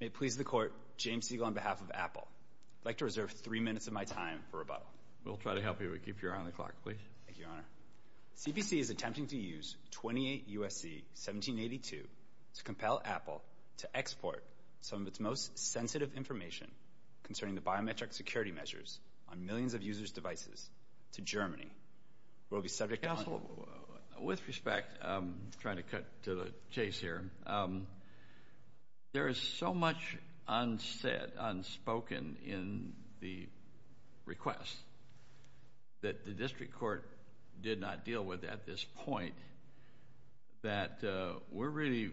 May it please the Court, James Segal on behalf of Apple, I'd like to reserve three minutes of my time for rebuttal. We'll try to help you, but keep your eye on the clock, please. Thank you, Your Honor. CPC is attempting to use 28 U.S.C. 1782 to compel Apple to export some of its most sensitive information concerning the biometric security measures on millions of users' devices to Germany. We'll be subject to- Counsel, with respect, I'm trying to cut to the chase here. There is so much unsaid, unspoken in the request that the district court did not deal with at this point that we're really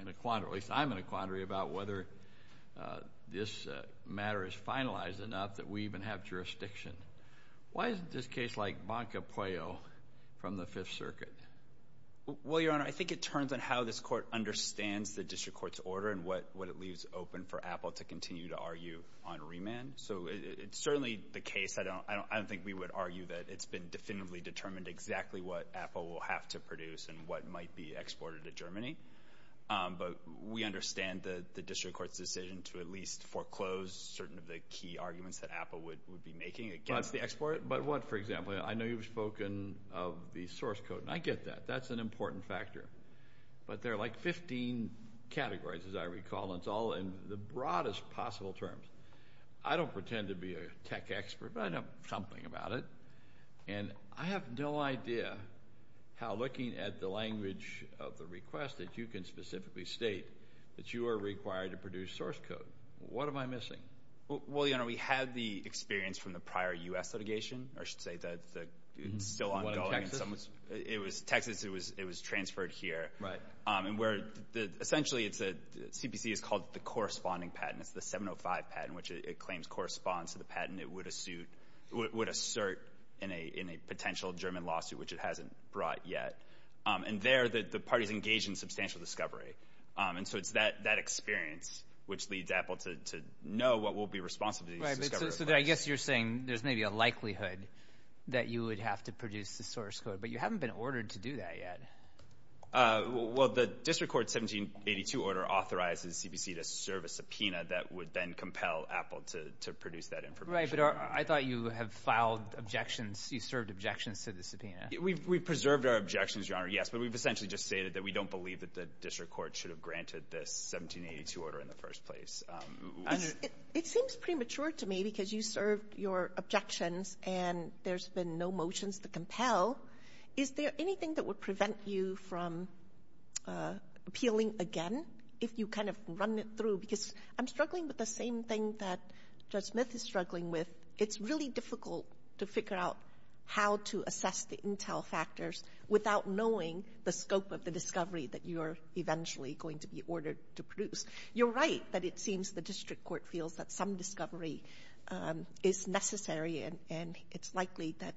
in a quandary, at least I'm in a quandary about whether this matter is finalized enough that we even have jurisdiction. Why is it this case like Banca Pueo from the Fifth Circuit? Well, Your Honor, I think it turns on how this court understands the district court's order and what it leaves open for Apple to continue to argue on remand. So it's certainly the case, I don't think we would argue that it's been definitively determined exactly what Apple will have to produce and what might be exported to Germany. But we understand the district court's decision to at least foreclose certain of the key arguments that Apple would be making against the export. But what, for example, I know you've spoken of the source code, and I get that. That's an important factor. But there are like 15 categories, as I recall, and it's all in the broadest possible terms. I don't pretend to be a tech expert, but I know something about it. And I have no idea how looking at the language of the request that you can specifically state that you are required to produce source code. What am I missing? Well, Your Honor, we had the experience from the prior U.S. litigation, or I should say that it's still ongoing. It was Texas, it was transferred here. Essentially, CPC is called the corresponding patent, it's the 705 patent, which it claims corresponds to the patent it would assert in a potential German lawsuit, which it hasn't brought yet. And there, the parties engage in substantial discovery. And so it's that experience which leads Apple to know what will be responsible for these discovery requests. Right, so I guess you're saying there's maybe a likelihood that you would have to produce the source code, but you haven't been ordered to do that yet. Well, the District Court 1782 order authorizes CPC to serve a subpoena that would then compel Apple to produce that information. Right, but I thought you have filed objections, you served objections to the subpoena. We preserved our objections, Your Honor, yes, but we've essentially just stated that we believe that the District Court should have granted this 1782 order in the first place. It seems premature to me because you served your objections and there's been no motions to compel. Is there anything that would prevent you from appealing again if you kind of run it through? Because I'm struggling with the same thing that Judge Smith is struggling with. It's really difficult to figure out how to assess the intel factors without knowing the scope of the discovery that you are eventually going to be ordered to produce. You're right that it seems the District Court feels that some discovery is necessary and it's likely that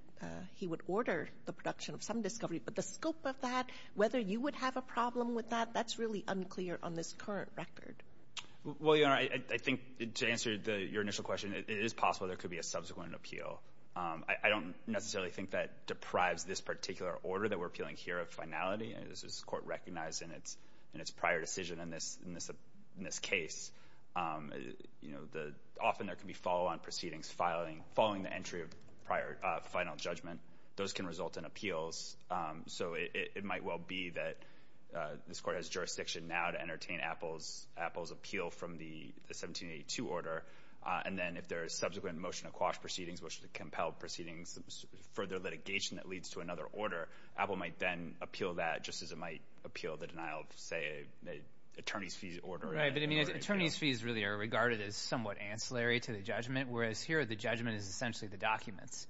he would order the production of some discovery, but the scope of that, whether you would have a problem with that, that's really unclear on this current record. Well, Your Honor, I think to answer your initial question, it is possible there could be a subsequent appeal. I don't necessarily think that deprives this particular order that we're appealing here of finality, as this Court recognized in its prior decision in this case. Often there can be follow-on proceedings following the entry of final judgment. Those can result in appeals, so it might well be that this Court has jurisdiction now to entertain Apple's appeal from the 1782 order, and then if there is subsequent motion to quash proceedings, which would compel proceedings, further litigation that leads to another order, Apple might then appeal that, just as it might appeal the denial of, say, an attorney's fees order. Right, but I mean attorney's fees really are regarded as somewhat ancillary to the judgment, whereas here the judgment is essentially the documents,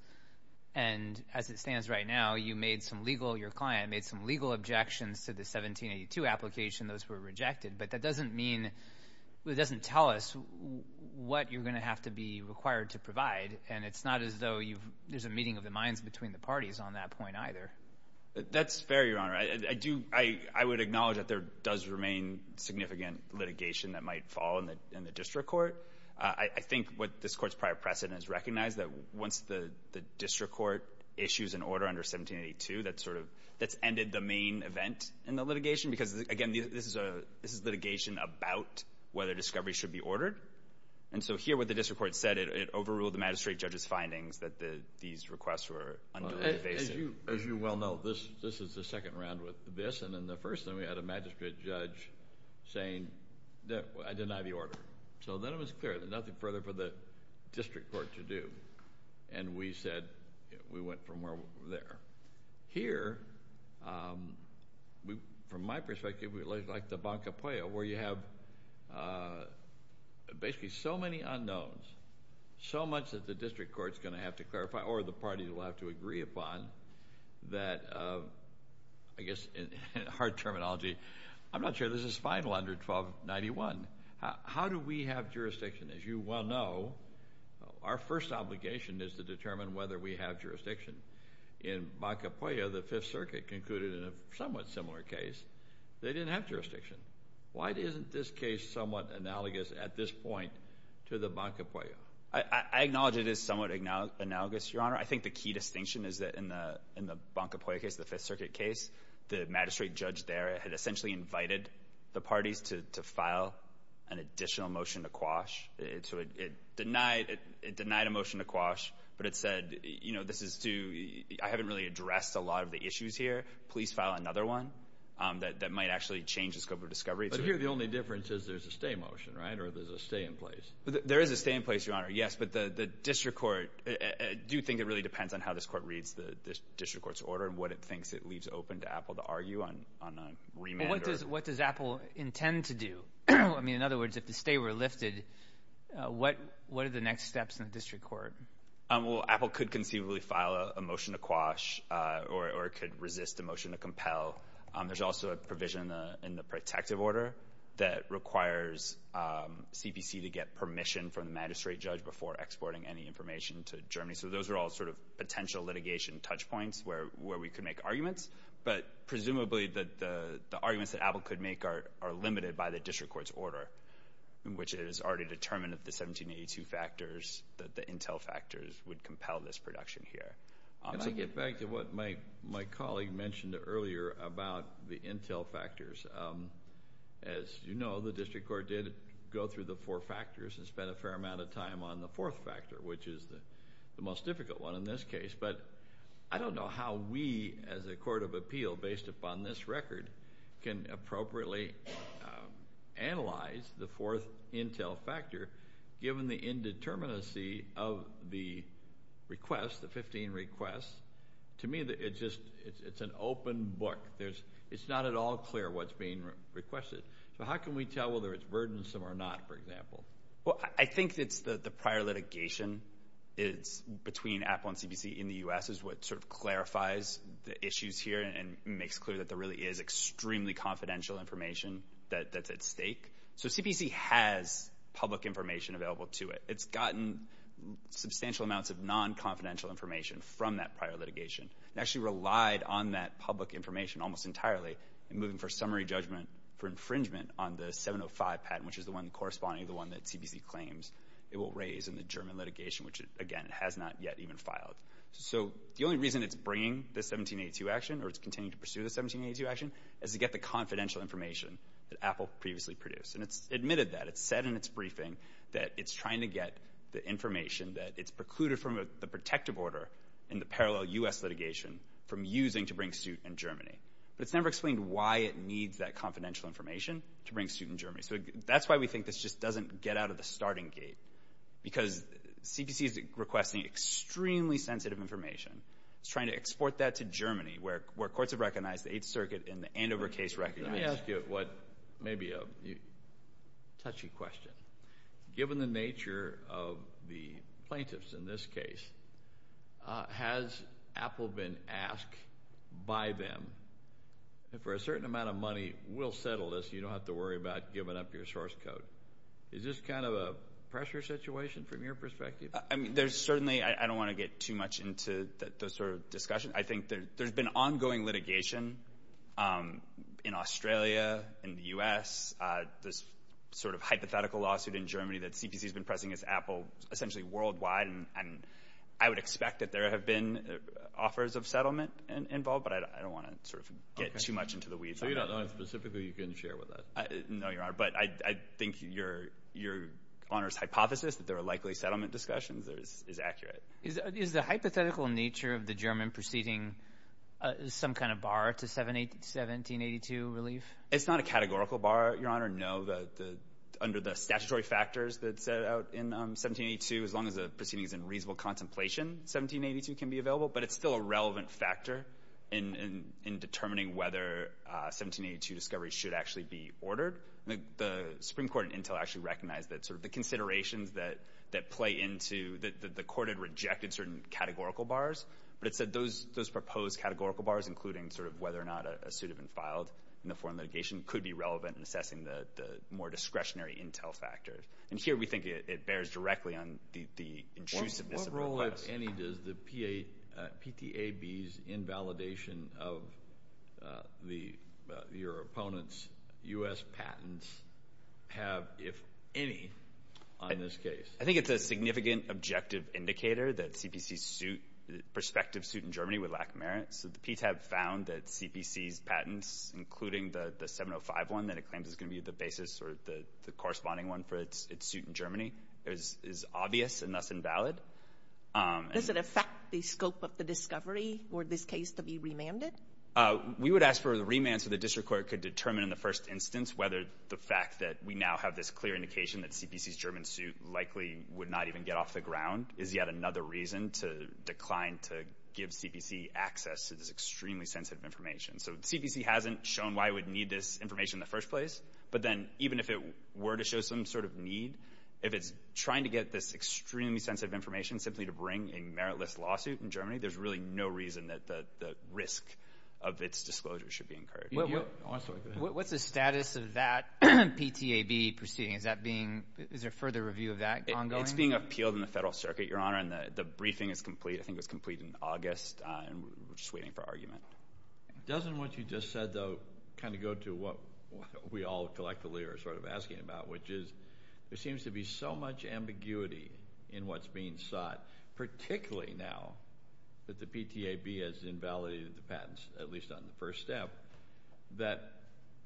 and as it stands right now, you made some legal, your client made some legal objections to the 1782 application. Those were rejected, but that doesn't mean, it doesn't tell us what you're going to have to be required to provide, and it's not as though there's a meeting of the minds between the parties on that point either. That's fair, Your Honor. I do, I would acknowledge that there does remain significant litigation that might fall in the district court. I think what this Court's prior precedent has recognized, that once the district court issues an order under 1782, that's sort of, that's ended the main event in the litigation, because again, this is litigation about whether discovery should be ordered, and so here what the district court said, it overruled the magistrate judge's findings that these requests were unduly evasive. As you well know, this is the second round with this, and then the first thing, we had a magistrate judge saying, I deny the order. So then it was clear, there's nothing further for the district court to do, and we said, we went from where we were there. Here, from my perspective, like the Banca Puella, where you have basically so many unknowns, so much that the district court's going to have to clarify, or the parties will have to agree upon, that I guess, in hard terminology, I'm not sure this is final under 1291. How do we have jurisdiction? As you well know, our first obligation is to determine whether we have jurisdiction. In Banca Puella, the Fifth Circuit concluded in a somewhat similar case, they didn't have Why isn't this case somewhat analogous at this point to the Banca Puella? I acknowledge it is somewhat analogous, Your Honor. I think the key distinction is that in the Banca Puella case, the Fifth Circuit case, the magistrate judge there had essentially invited the parties to file an additional motion to quash. It denied a motion to quash, but it said, I haven't really addressed a lot of the issues here. Please file another one that might actually change the scope of discovery. But here, the only difference is there's a stay motion, right, or there's a stay in place. There is a stay in place, Your Honor, yes, but the district court, I do think it really depends on how this court reads the district court's order and what it thinks it leaves open to Apple to argue on a remand. What does Apple intend to do? In other words, if the stay were lifted, what are the next steps in the district court? Well, Apple could conceivably file a motion to quash or it could resist a motion to compel. There's also a provision in the protective order that requires CPC to get permission from the magistrate judge before exporting any information to Germany. So those are all sort of potential litigation touch points where we could make arguments. But presumably, the arguments that Apple could make are limited by the district court's order, which is already determined at the 1782 factors that the intel factors would compel this production here. Can I get back to what my colleague mentioned earlier about the intel factors? As you know, the district court did go through the four factors and spent a fair amount of time on the fourth factor, which is the most difficult one in this case. But I don't know how we, as a court of appeal, based upon this record, can appropriately analyze the fourth intel factor, given the indeterminacy of the request, the 15 requests. To me, it's an open book. It's not at all clear what's being requested. So how can we tell whether it's burdensome or not, for example? Well, I think it's the prior litigation between Apple and CPC in the U.S. is what sort of clarifies the issues here and makes clear that there really is extremely confidential information that's at stake. So CPC has public information available to it. It's gotten substantial amounts of non-confidential information from that prior litigation and actually relied on that public information almost entirely in moving for summary judgment for infringement on the 705 patent, which is the one corresponding to the one that CPC claims it will raise in the German litigation, which, again, it has not yet even filed. So the only reason it's bringing the 1782 action or it's continuing to pursue the 1782 action is to get the confidential information that Apple previously produced. And it's admitted that. It said in its briefing that it's trying to get the information that it's precluded from the protective order in the parallel U.S. litigation from using to bring suit in Germany. But it's never explained why it needs that confidential information to bring suit in Germany. So that's why we think this just doesn't get out of the starting gate, because CPC is requesting extremely sensitive information. It's trying to export that to Germany, where courts have recognized the Eighth Circuit in the Andover case record. Let me ask you what may be a touchy question. Given the nature of the plaintiffs in this case, has Apple been asked by them, for a certain amount of money, we'll settle this, you don't have to worry about giving up your source code. Is this kind of a pressure situation from your perspective? I mean, there's certainly, I don't want to get too much into the sort of discussion. I think there's been ongoing litigation in Australia, in the U.S., this sort of hypothetical lawsuit in Germany that CPC has been pressing against Apple, essentially worldwide, and I would expect that there have been offers of settlement involved, but I don't want to sort of get too much into the weeds on that. So you don't know specifically who you can share with us? No, Your Honor, but I think your Honor's hypothesis that there are likely settlement discussions is accurate. Is the hypothetical nature of the German proceeding some kind of bar to 1782 relief? It's not a categorical bar, Your Honor. No, under the statutory factors that set out in 1782, as long as the proceeding is in reasonable contemplation, 1782 can be available, but it's still a relevant factor in determining whether 1782 discovery should actually be ordered. The Supreme Court in Intel actually recognized that sort of the considerations that play into, that the court had rejected certain categorical bars, but it said those proposed categorical bars, including sort of whether or not a suit had been filed in the foreign litigation, could be relevant in assessing the more discretionary Intel factors. And here we think it bears directly on the intrusiveness of requests. What role, if any, does the PTAB's invalidation of the, your opponent's U.S. patents have, if any, on this case? I think it's a significant objective indicator that CPC's suit, prospective suit in Germany would lack merit. So the PTAB found that CPC's patents, including the 705 one that it claims is going to be the basis or the corresponding one for its suit in Germany, is obvious and thus invalid. Does it affect the scope of the discovery for this case to be remanded? We would ask for the remand so the district court could determine in the first instance whether the fact that we now have this clear indication that CPC's German suit likely would not even get off the ground is yet another reason to decline to give CPC access to this extremely sensitive information. So CPC hasn't shown why it would need this information in the first place. But then even if it were to show some sort of need, if it's trying to get this extremely sensitive information simply to bring a meritless lawsuit in Germany, there's really no reason that the risk of its disclosure should be incurred. What's the status of that PTAB proceeding? Is there further review of that ongoing? It's being appealed in the Federal Circuit, Your Honor, and the briefing is complete. I think it was complete in August, and we're just waiting for argument. Doesn't what you just said, though, kind of go to what we all collectively are sort of asking about, which is there seems to be so much ambiguity in what's being sought, particularly now that the PTAB has invalidated the patents, at least on the first step, that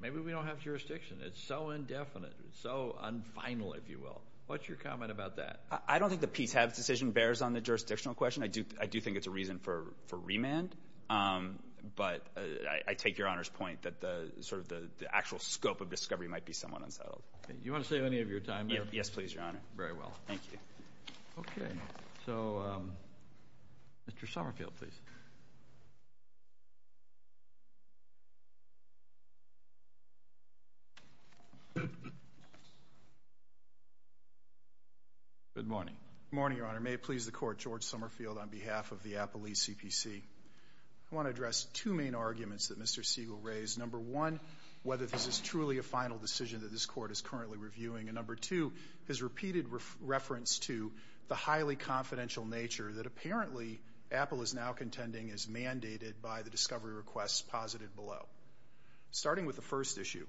maybe we don't have jurisdiction. It's so indefinite. It's so unfinal, if you will. What's your comment about that? I don't think the PTAB decision bears on the jurisdictional question. I do think it's a reason for remand. But I take Your Honor's point that sort of the actual scope of discovery might be somewhat unsettled. Do you want to save any of your time? Yes, please, Your Honor. Very well. Thank you. Okay. So, Mr. Summerfield, please. Good morning. Good morning, Your Honor. May it please the Court, George Summerfield, on behalf of the Appalachian CPC, I want to address two main arguments that Mr. Siegel raised. Number one, whether this is truly a final decision that this Court is currently reviewing. And number two, his repeated reference to the highly confidential nature that apparently Apple is now contending is mandated by the discovery requests posited below. Starting with the first issue,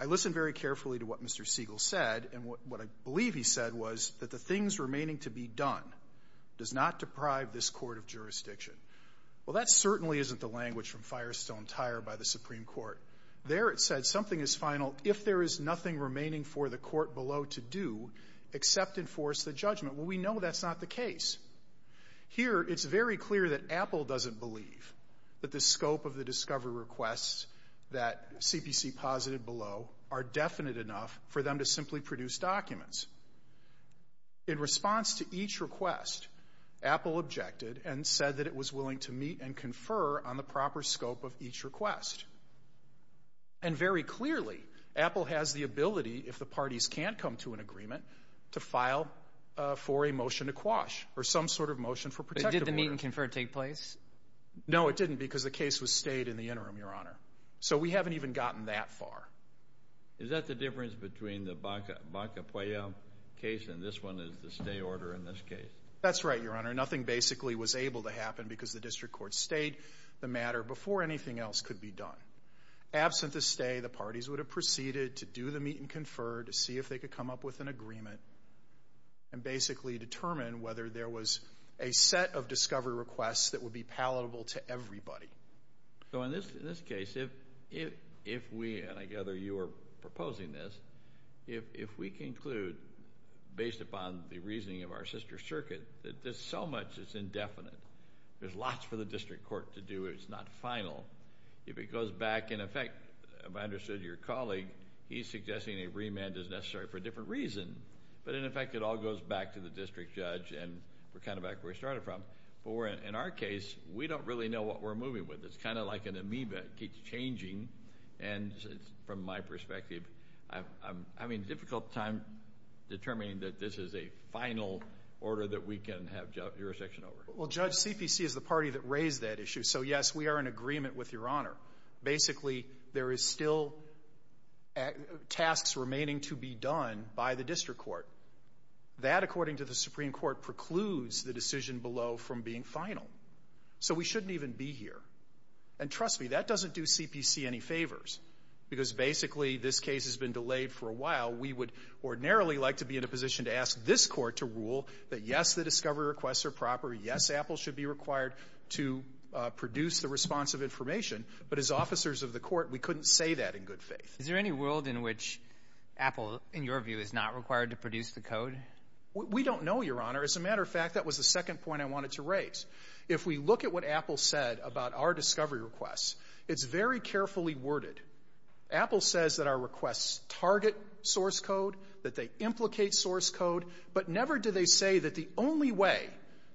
I listened very carefully to what Mr. Siegel said, and what I believe he said was that the things remaining to be done does not deprive this Court of jurisdiction. Well, that certainly isn't the language from Firestone Tire by the Supreme Court. There it said something is final if there is nothing remaining for the Court below to do except enforce the judgment. Well, we know that's not the case. Here it's very clear that Apple doesn't believe that the scope of the discovery requests that CPC posited below are definite enough for them to simply produce documents. In response to each request, Apple objected and said that it was willing to meet and confer on the proper scope of each request. And very clearly, Apple has the ability, if the parties can't come to an agreement, to file for a motion to quash or some sort of motion for protective order. But did the meet and confer take place? No, it didn't because the case was stayed in the interim, Your Honor. So we haven't even gotten that far. Is that the difference between the Baca-Puello case and this one is the stay order in this case? That's right, Your Honor. Nothing basically was able to happen because the District Court stayed the matter before anything else could be done. Absent the stay, the parties would have proceeded to do the meet and confer to see if they could come up with an agreement and basically determine whether there was a set of discovery requests that would be palatable to everybody. So in this case, if we, and I gather you are proposing this, if we conclude based upon the reasoning of our sister circuit that there's so much that's indefinite, there's lots for the District Court to do if it's not final, if it goes back, in effect, if I understood your colleague, he's suggesting a remand is necessary for a different reason, but in effect it all goes back to the District Judge and we're kind of back where we started from. But in our case, we don't really know what we're moving with. It's kind of like an amoeba. It keeps changing. And from my perspective, I'm having a difficult time determining that this is a final order that we can have jurisdiction over. Well, Judge, CPC is the party that raised that issue, so yes, we are in agreement with Your Honor. Basically, there is still tasks remaining to be done by the District Court. That according to the Supreme Court precludes the decision below from being final. So we shouldn't even be here. And trust me, that doesn't do CPC any favors because basically this case has been delayed for a while. We would ordinarily like to be in a position to ask this Court to rule that yes, the discovery requests are proper, yes, Apple should be required to produce the response of information, but as officers of the Court, we couldn't say that in good faith. Is there any world in which Apple, in your view, is not required to produce the code? We don't know, Your Honor. As a matter of fact, that was the second point I wanted to raise. If we look at what Apple said about our discovery requests, it's very carefully worded. Apple says that our requests target source code, that they implicate source code, but never do they say that the only way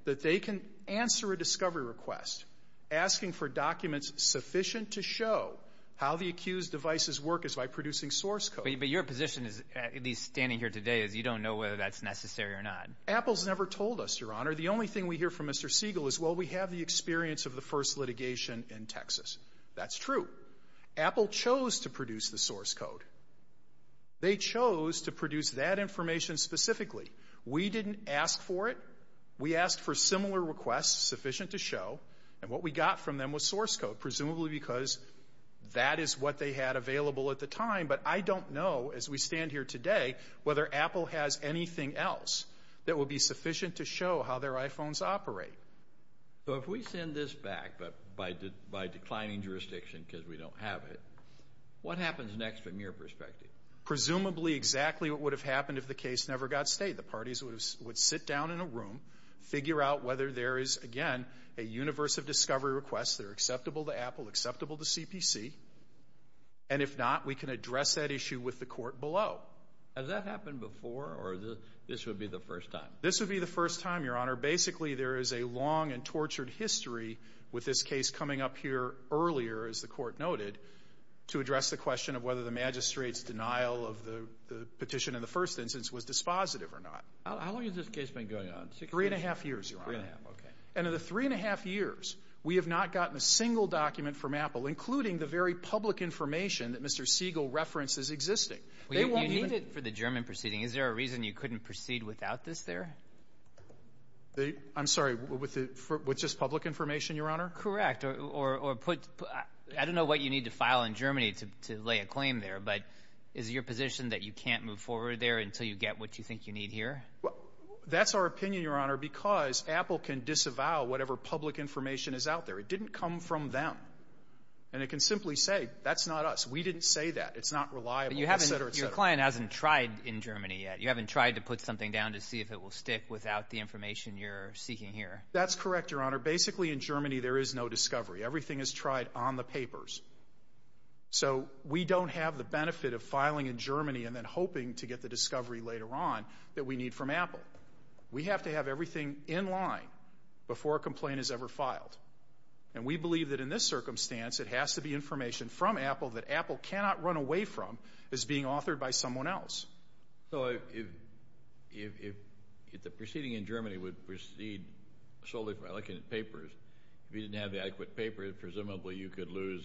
that they can answer a discovery request asking for documents sufficient to show how the accused devices work is by producing source code. But your position is, at least standing here today, is you don't know whether that's necessary or not. Apple's never told us, Your Honor. The only thing we hear from Mr. Siegel is, well, we have the experience of the first litigation in Texas. That's true. Apple chose to produce the source code. They chose to produce that information specifically. We didn't ask for it. We asked for similar requests sufficient to show, and what we got from them was source code, presumably because that is what they had available at the time. But I don't know, as we stand here today, whether Apple has anything else that would be sufficient to show how their iPhones operate. So if we send this back, but by declining jurisdiction because we don't have it, what happens next from your perspective? Presumably exactly what would have happened if the case never got stated. The parties would sit down in a room, figure out whether there is, again, a universe of discovery requests that are acceptable to Apple, acceptable to CPC, and if not, we can address that issue with the court below. Has that happened before, or this would be the first time? This would be the first time, Your Honor. Basically, there is a long and tortured history with this case coming up here earlier, as the court noted, to address the question of whether the magistrate's denial of the petition in the first instance was dispositive or not. How long has this case been going on? Three and a half years, Your Honor. Three and a half. Okay. And in the three and a half years, we have not gotten a single document from Apple, including the very public information that Mr. Siegel references existing. They won't even — You need it for the German proceeding. Is there a reason you couldn't proceed without this there? I'm sorry. With just public information, Your Honor? Correct. Or put — I don't know what you need to file in Germany to lay a claim there, but is it your position that you can't move forward there until you get what you think you need here? Well, that's our opinion, Your Honor, because Apple can disavow whatever public information is out there. It didn't come from them. And it can simply say, that's not us. We didn't say that. It's not reliable, et cetera, et cetera. But your client hasn't tried in Germany yet. You haven't tried to put something down to see if it will stick without the information you're seeking here. That's correct, Your Honor. Basically, in Germany, there is no discovery. Everything is tried on the papers. So we don't have the benefit of filing in Germany and then hoping to get the discovery later on that we need from Apple. We have to have everything in line before a complaint is ever filed. And we believe that in this circumstance, it has to be information from Apple that Apple cannot run away from as being authored by someone else. So if the proceeding in Germany would proceed solely by looking at papers, if you didn't have the adequate papers, presumably you could lose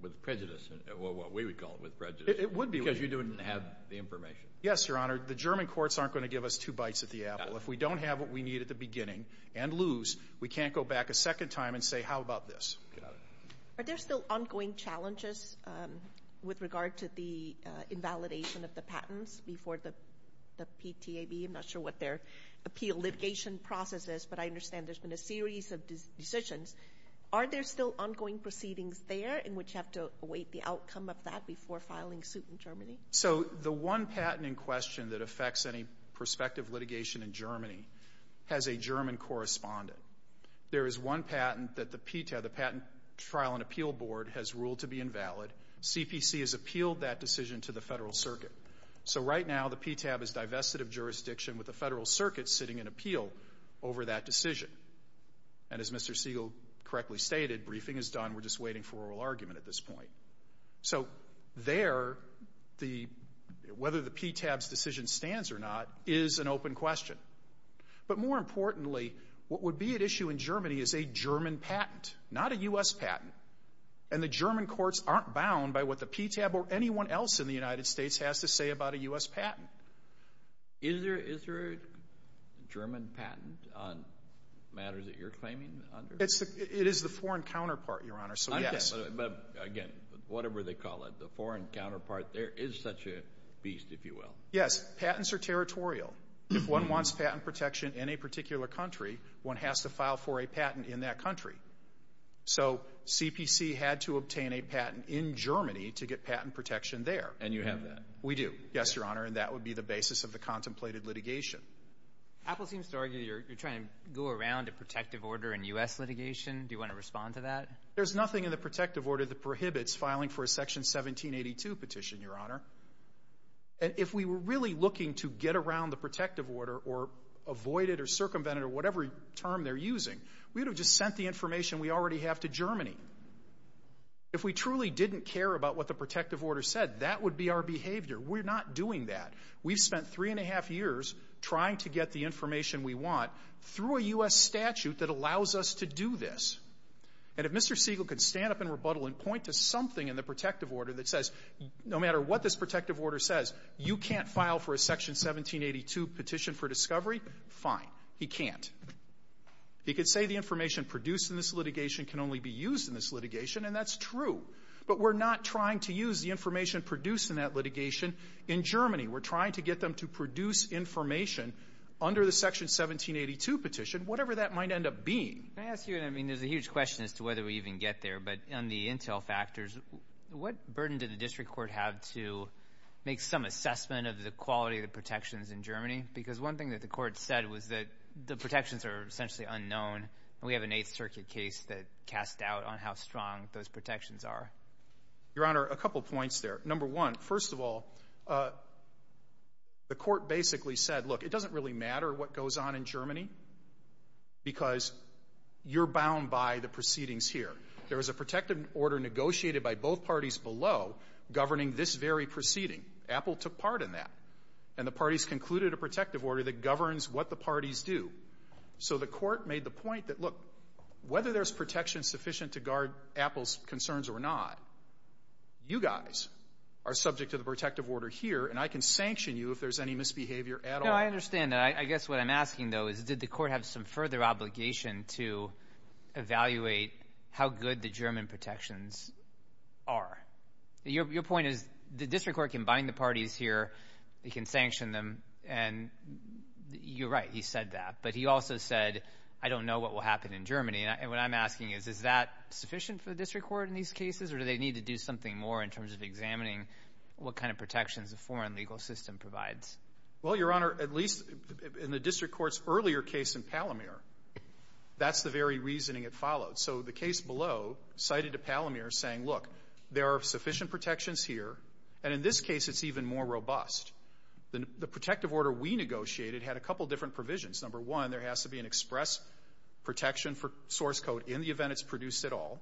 with prejudice, or what we would call it, with prejudice. It would be. Because you didn't have the information. Yes, Your Honor. The German courts aren't going to give us two bites at the apple. If we don't have what we need at the beginning and lose, we can't go back a second time and say, how about this? Got it. Are there still ongoing challenges with regard to the invalidation of the patents before the PTAB? I'm not sure what their appeal litigation process is, but I understand there's been a series of decisions. Are there still ongoing proceedings there in which you have to await the outcome of that before filing suit in Germany? So the one patent in question that affects any prospective litigation in Germany has a German correspondent. There is one patent that the PTAB, the Patent Trial and Appeal Board, has ruled to be invalid. CPC has appealed that decision to the Federal Circuit. So right now, the PTAB is divested of jurisdiction with the Federal Circuit sitting in appeal over that decision. And as Mr. Siegel correctly stated, briefing is done. We're just waiting for oral argument at this point. So there, whether the PTAB's decision stands or not is an open question. But more importantly, what would be at issue in Germany is a German patent, not a U.S. patent. And the German courts aren't bound by what the PTAB or anyone else in the United States has to say about a U.S. patent. Is there a German patent on matters that you're claiming? It is the foreign counterpart, Your Honor, so yes. But again, whatever they call it, the foreign counterpart, there is such a beast, if you will. Yes. Yes. Patents are territorial. If one wants patent protection in a particular country, one has to file for a patent in that country. So CPC had to obtain a patent in Germany to get patent protection there. And you have that? We do. Yes, Your Honor. And that would be the basis of the contemplated litigation. Apple seems to argue you're trying to go around a protective order in U.S. litigation. Do you want to respond to that? There's nothing in the protective order that prohibits filing for a Section 1782 petition, Your Honor. And if we were really looking to get around the protective order or avoid it or circumvent it or whatever term they're using, we would have just sent the information we already have to Germany. If we truly didn't care about what the protective order said, that would be our behavior. We're not doing that. We've spent three and a half years trying to get the information we want through a U.S. statute that allows us to do this. And if Mr. Siegel could stand up and rebuttal and point to something in the protective order that says, no matter what this protective order says, you can't file for a Section 1782 petition for discovery, fine. He can't. He could say the information produced in this litigation can only be used in this litigation, and that's true. But we're not trying to use the information produced in that litigation in Germany. We're trying to get them to produce information under the Section 1782 petition, whatever that might end up being. Can I ask you a question? I mean, there's a huge question as to whether we even get there. But on the intel factors, what burden did the district court have to make some assessment of the quality of the protections in Germany? Because one thing that the court said was that the protections are essentially unknown. We have an Eighth Circuit case that cast doubt on how strong those protections are. Your Honor, a couple points there. Number one, first of all, the court basically said, look, it doesn't really matter what goes on in Germany because you're bound by the proceedings here. There was a protective order negotiated by both parties below governing this very proceeding. Apple took part in that. And the parties concluded a protective order that governs what the parties do. So the court made the point that, look, whether there's protection sufficient to guard Apple's concerns or not, you guys are subject to the protective order here, and I can sanction you if there's any misbehavior at all. No, I understand that. I guess what I'm asking, though, is did the court have some further obligation to evaluate how good the German protections are? Your point is the district court can bind the parties here. It can sanction them. And you're right, he said that. But he also said, I don't know what will happen in Germany. And what I'm asking is, is that sufficient for the district court in these cases? Or do they need to do something more in terms of examining what kind of protections the foreign legal system provides? Well, Your Honor, at least in the district court's earlier case in Palomar, that's the very reasoning it followed. So the case below cited to Palomar saying, look, there are sufficient protections here, and in this case, it's even more robust. The protective order we negotiated had a couple different provisions. Number one, there has to be an express protection for source code in the event it's produced at all.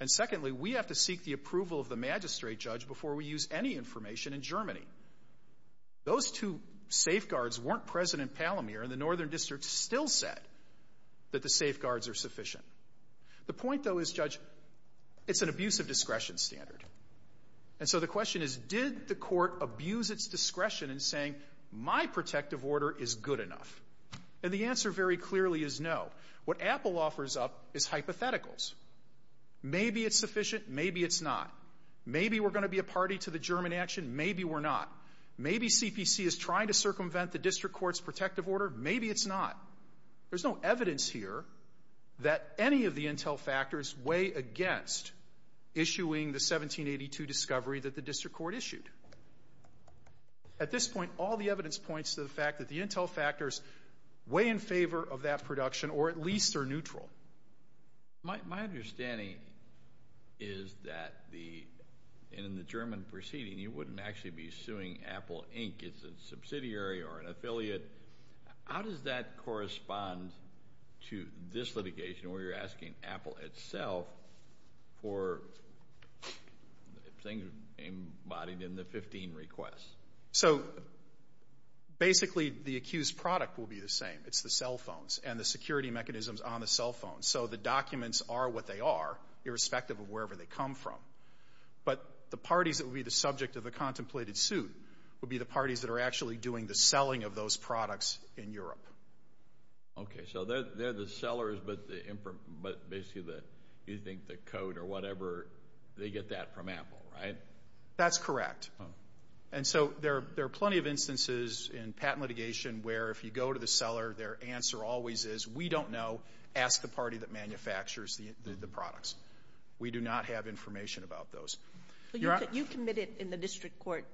And secondly, we have to seek the approval of the magistrate judge before we use any information in Germany. Those two safeguards weren't present in Palomar, and the northern district still said that the safeguards are sufficient. The point, though, is, Judge, it's an abuse of discretion standard. And so the question is, did the court abuse its discretion in saying, my protective order is good enough? And the answer very clearly is no. What Apple offers up is hypotheticals. Maybe it's sufficient, maybe it's not. Maybe we're going to be a party to the German action, maybe we're not. Maybe CPC is trying to circumvent the district court's protective order, maybe it's not. There's no evidence here that any of the intel factors weigh against issuing the 1782 discovery that the district court issued. At this point, all the evidence points to the fact that the intel factors weigh in favor of that production, or at least are neutral. My understanding is that in the German proceeding, you wouldn't actually be suing Apple, Inc. It's a subsidiary or an affiliate. How does that correspond to this litigation, where you're asking Apple itself for things embodied in the 15 requests? So, basically, the accused product will be the same. It's the cell phones and the security mechanisms on the cell phones. So the documents are what they are, irrespective of wherever they come from. But the parties that would be the subject of the contemplated suit would be the parties that are actually doing the selling of those products in Europe. Okay. So they're the sellers, but basically you think the code or whatever, they get that from Apple, right? That's correct. And so there are plenty of instances in patent litigation where if you go to the court, their answer always is, we don't know. Ask the party that manufactures the products. We do not have information about those. You committed in the district court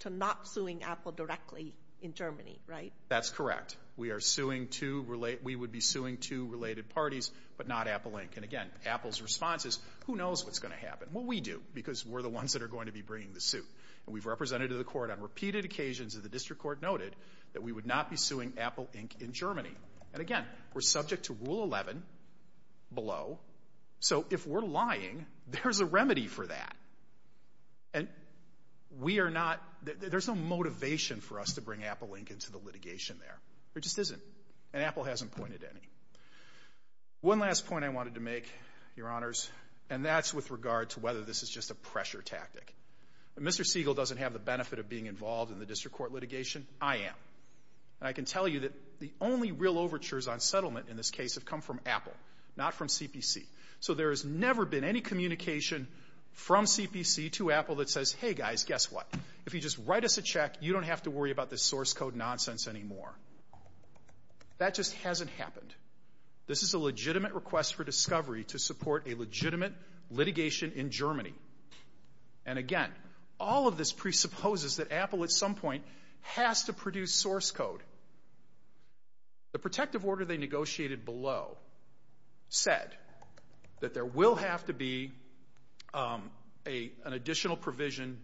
to not suing Apple directly in Germany, right? That's correct. We would be suing two related parties, but not Apple, Inc. And, again, Apple's response is, who knows what's going to happen? Well, we do, because we're the ones that are going to be bringing the suit. And we've represented to the court on repeated occasions that the district court noted that we would not be suing Apple, Inc. in Germany. And, again, we're subject to Rule 11 below. So if we're lying, there's a remedy for that. And we are not – there's no motivation for us to bring Apple, Inc. into the litigation there. There just isn't. And Apple hasn't pointed any. One last point I wanted to make, Your Honors, and that's with regard to whether this is just a pressure tactic. Mr. Siegel doesn't have the benefit of being involved in the district court litigation. I am. And I can tell you that the only real overtures on settlement in this case have come from Apple, not from CPC. So there has never been any communication from CPC to Apple that says, hey, guys, guess what? If you just write us a check, you don't have to worry about this source code nonsense anymore. That just hasn't happened. This is a legitimate request for discovery to support a legitimate litigation in Germany. And, again, all of this presupposes that Apple at some point has to produce source code. The protective order they negotiated below said that there will have to be an additional provision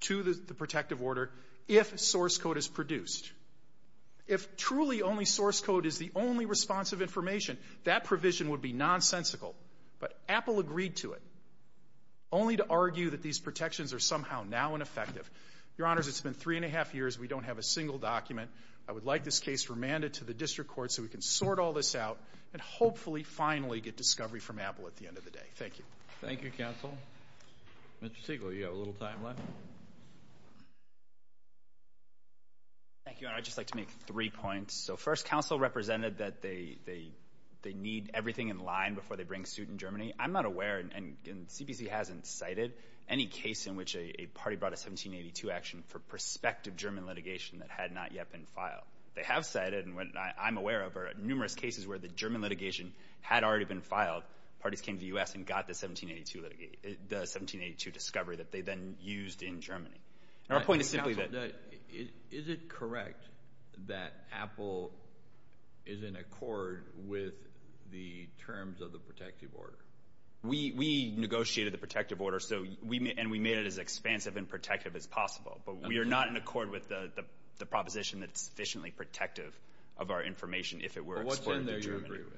to the protective order if source code is produced. If truly only source code is the only response of information, that provision would be nonsensical. But Apple agreed to it only to argue that these protections are somehow now ineffective. Your Honors, it's been three and a half years. We don't have a single document. I would like this case remanded to the district court so we can sort all this out and hopefully finally get discovery from Apple at the end of the day. Thank you. Thank you, counsel. Mr. Siegel, you have a little time left. Thank you, Your Honor. I'd just like to make three points. So first, counsel represented that they need everything in line before they bring suit in Germany. I'm not aware, and CPC hasn't cited any case in which a party brought a 1782 action for prospective German litigation that had not yet been filed. They have cited, and what I'm aware of, are numerous cases where the German litigation had already been filed. Parties came to the U.S. and got the 1782 discovery that they then used in Germany. Our point is simply that. Is it correct that Apple is in accord with the terms of the protective order? We negotiated the protective order, and we made it as expansive and protective as possible. But we are not in accord with the proposition that it's sufficiently protective of our information if it works. What's in there you agree with?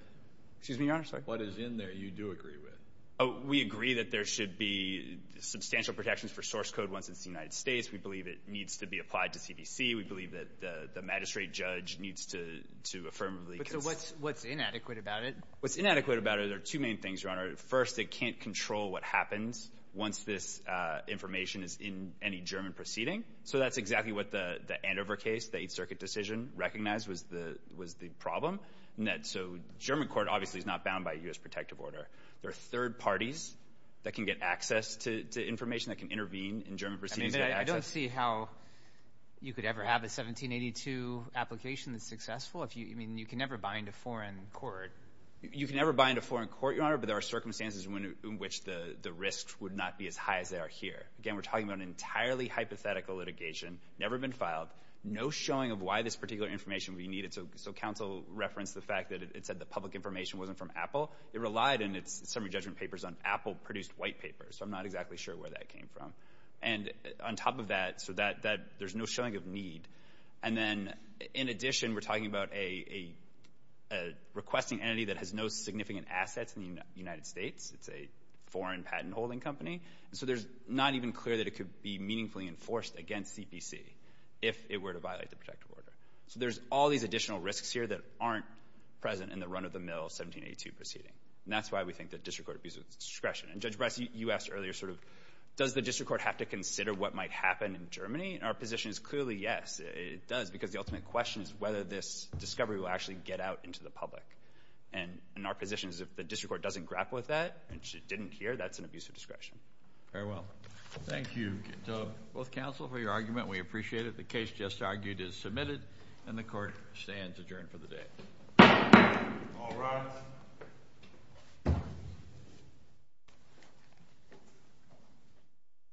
Excuse me, Your Honor. What is in there you do agree with? We agree that there should be substantial protections for source code once it's the United States. We believe it needs to be applied to CPC. We believe that the magistrate judge needs to affirmably consent. So what's inadequate about it? What's inadequate about it are two main things, Your Honor. First, it can't control what happens once this information is in any German proceeding. So that's exactly what the Andover case, the Eighth Circuit decision, recognized was the problem. So German court obviously is not bound by a U.S. protective order. There are third parties that can get access to information that can intervene in German proceedings. I don't see how you could ever have a 1782 application that's successful. I mean, you can never bind a foreign court. You can never bind a foreign court, Your Honor, but there are circumstances in which the risks would not be as high as they are here. Again, we're talking about an entirely hypothetical litigation, never been filed, no showing of why this particular information would be needed. So counsel referenced the fact that it said the public information wasn't from Apple. It relied in its summary judgment papers on Apple-produced white paper. So I'm not exactly sure where that came from. And on top of that, so that there's no showing of need. And then in addition, we're talking about a requesting entity that has no significant assets in the United States. It's a foreign patent-holding company. So there's not even clear that it could be meaningfully enforced against CPC if it were to violate the protective order. So there's all these additional risks here that aren't present in the run-of-the-mill 1782 proceeding. And that's why we think that district court abuse of discretion. And, Judge Bryce, you asked earlier sort of does the district court have to consider what might happen in Germany? And our position is clearly yes, it does, because the ultimate question is whether this discovery will actually get out into the public. And our position is if the district court doesn't grapple with that and didn't hear, that's an abuse of discretion. Very well. Thank you, both counsel, for your argument. We appreciate it. The case just argued is submitted, and the court stands adjourned for the day. All rise.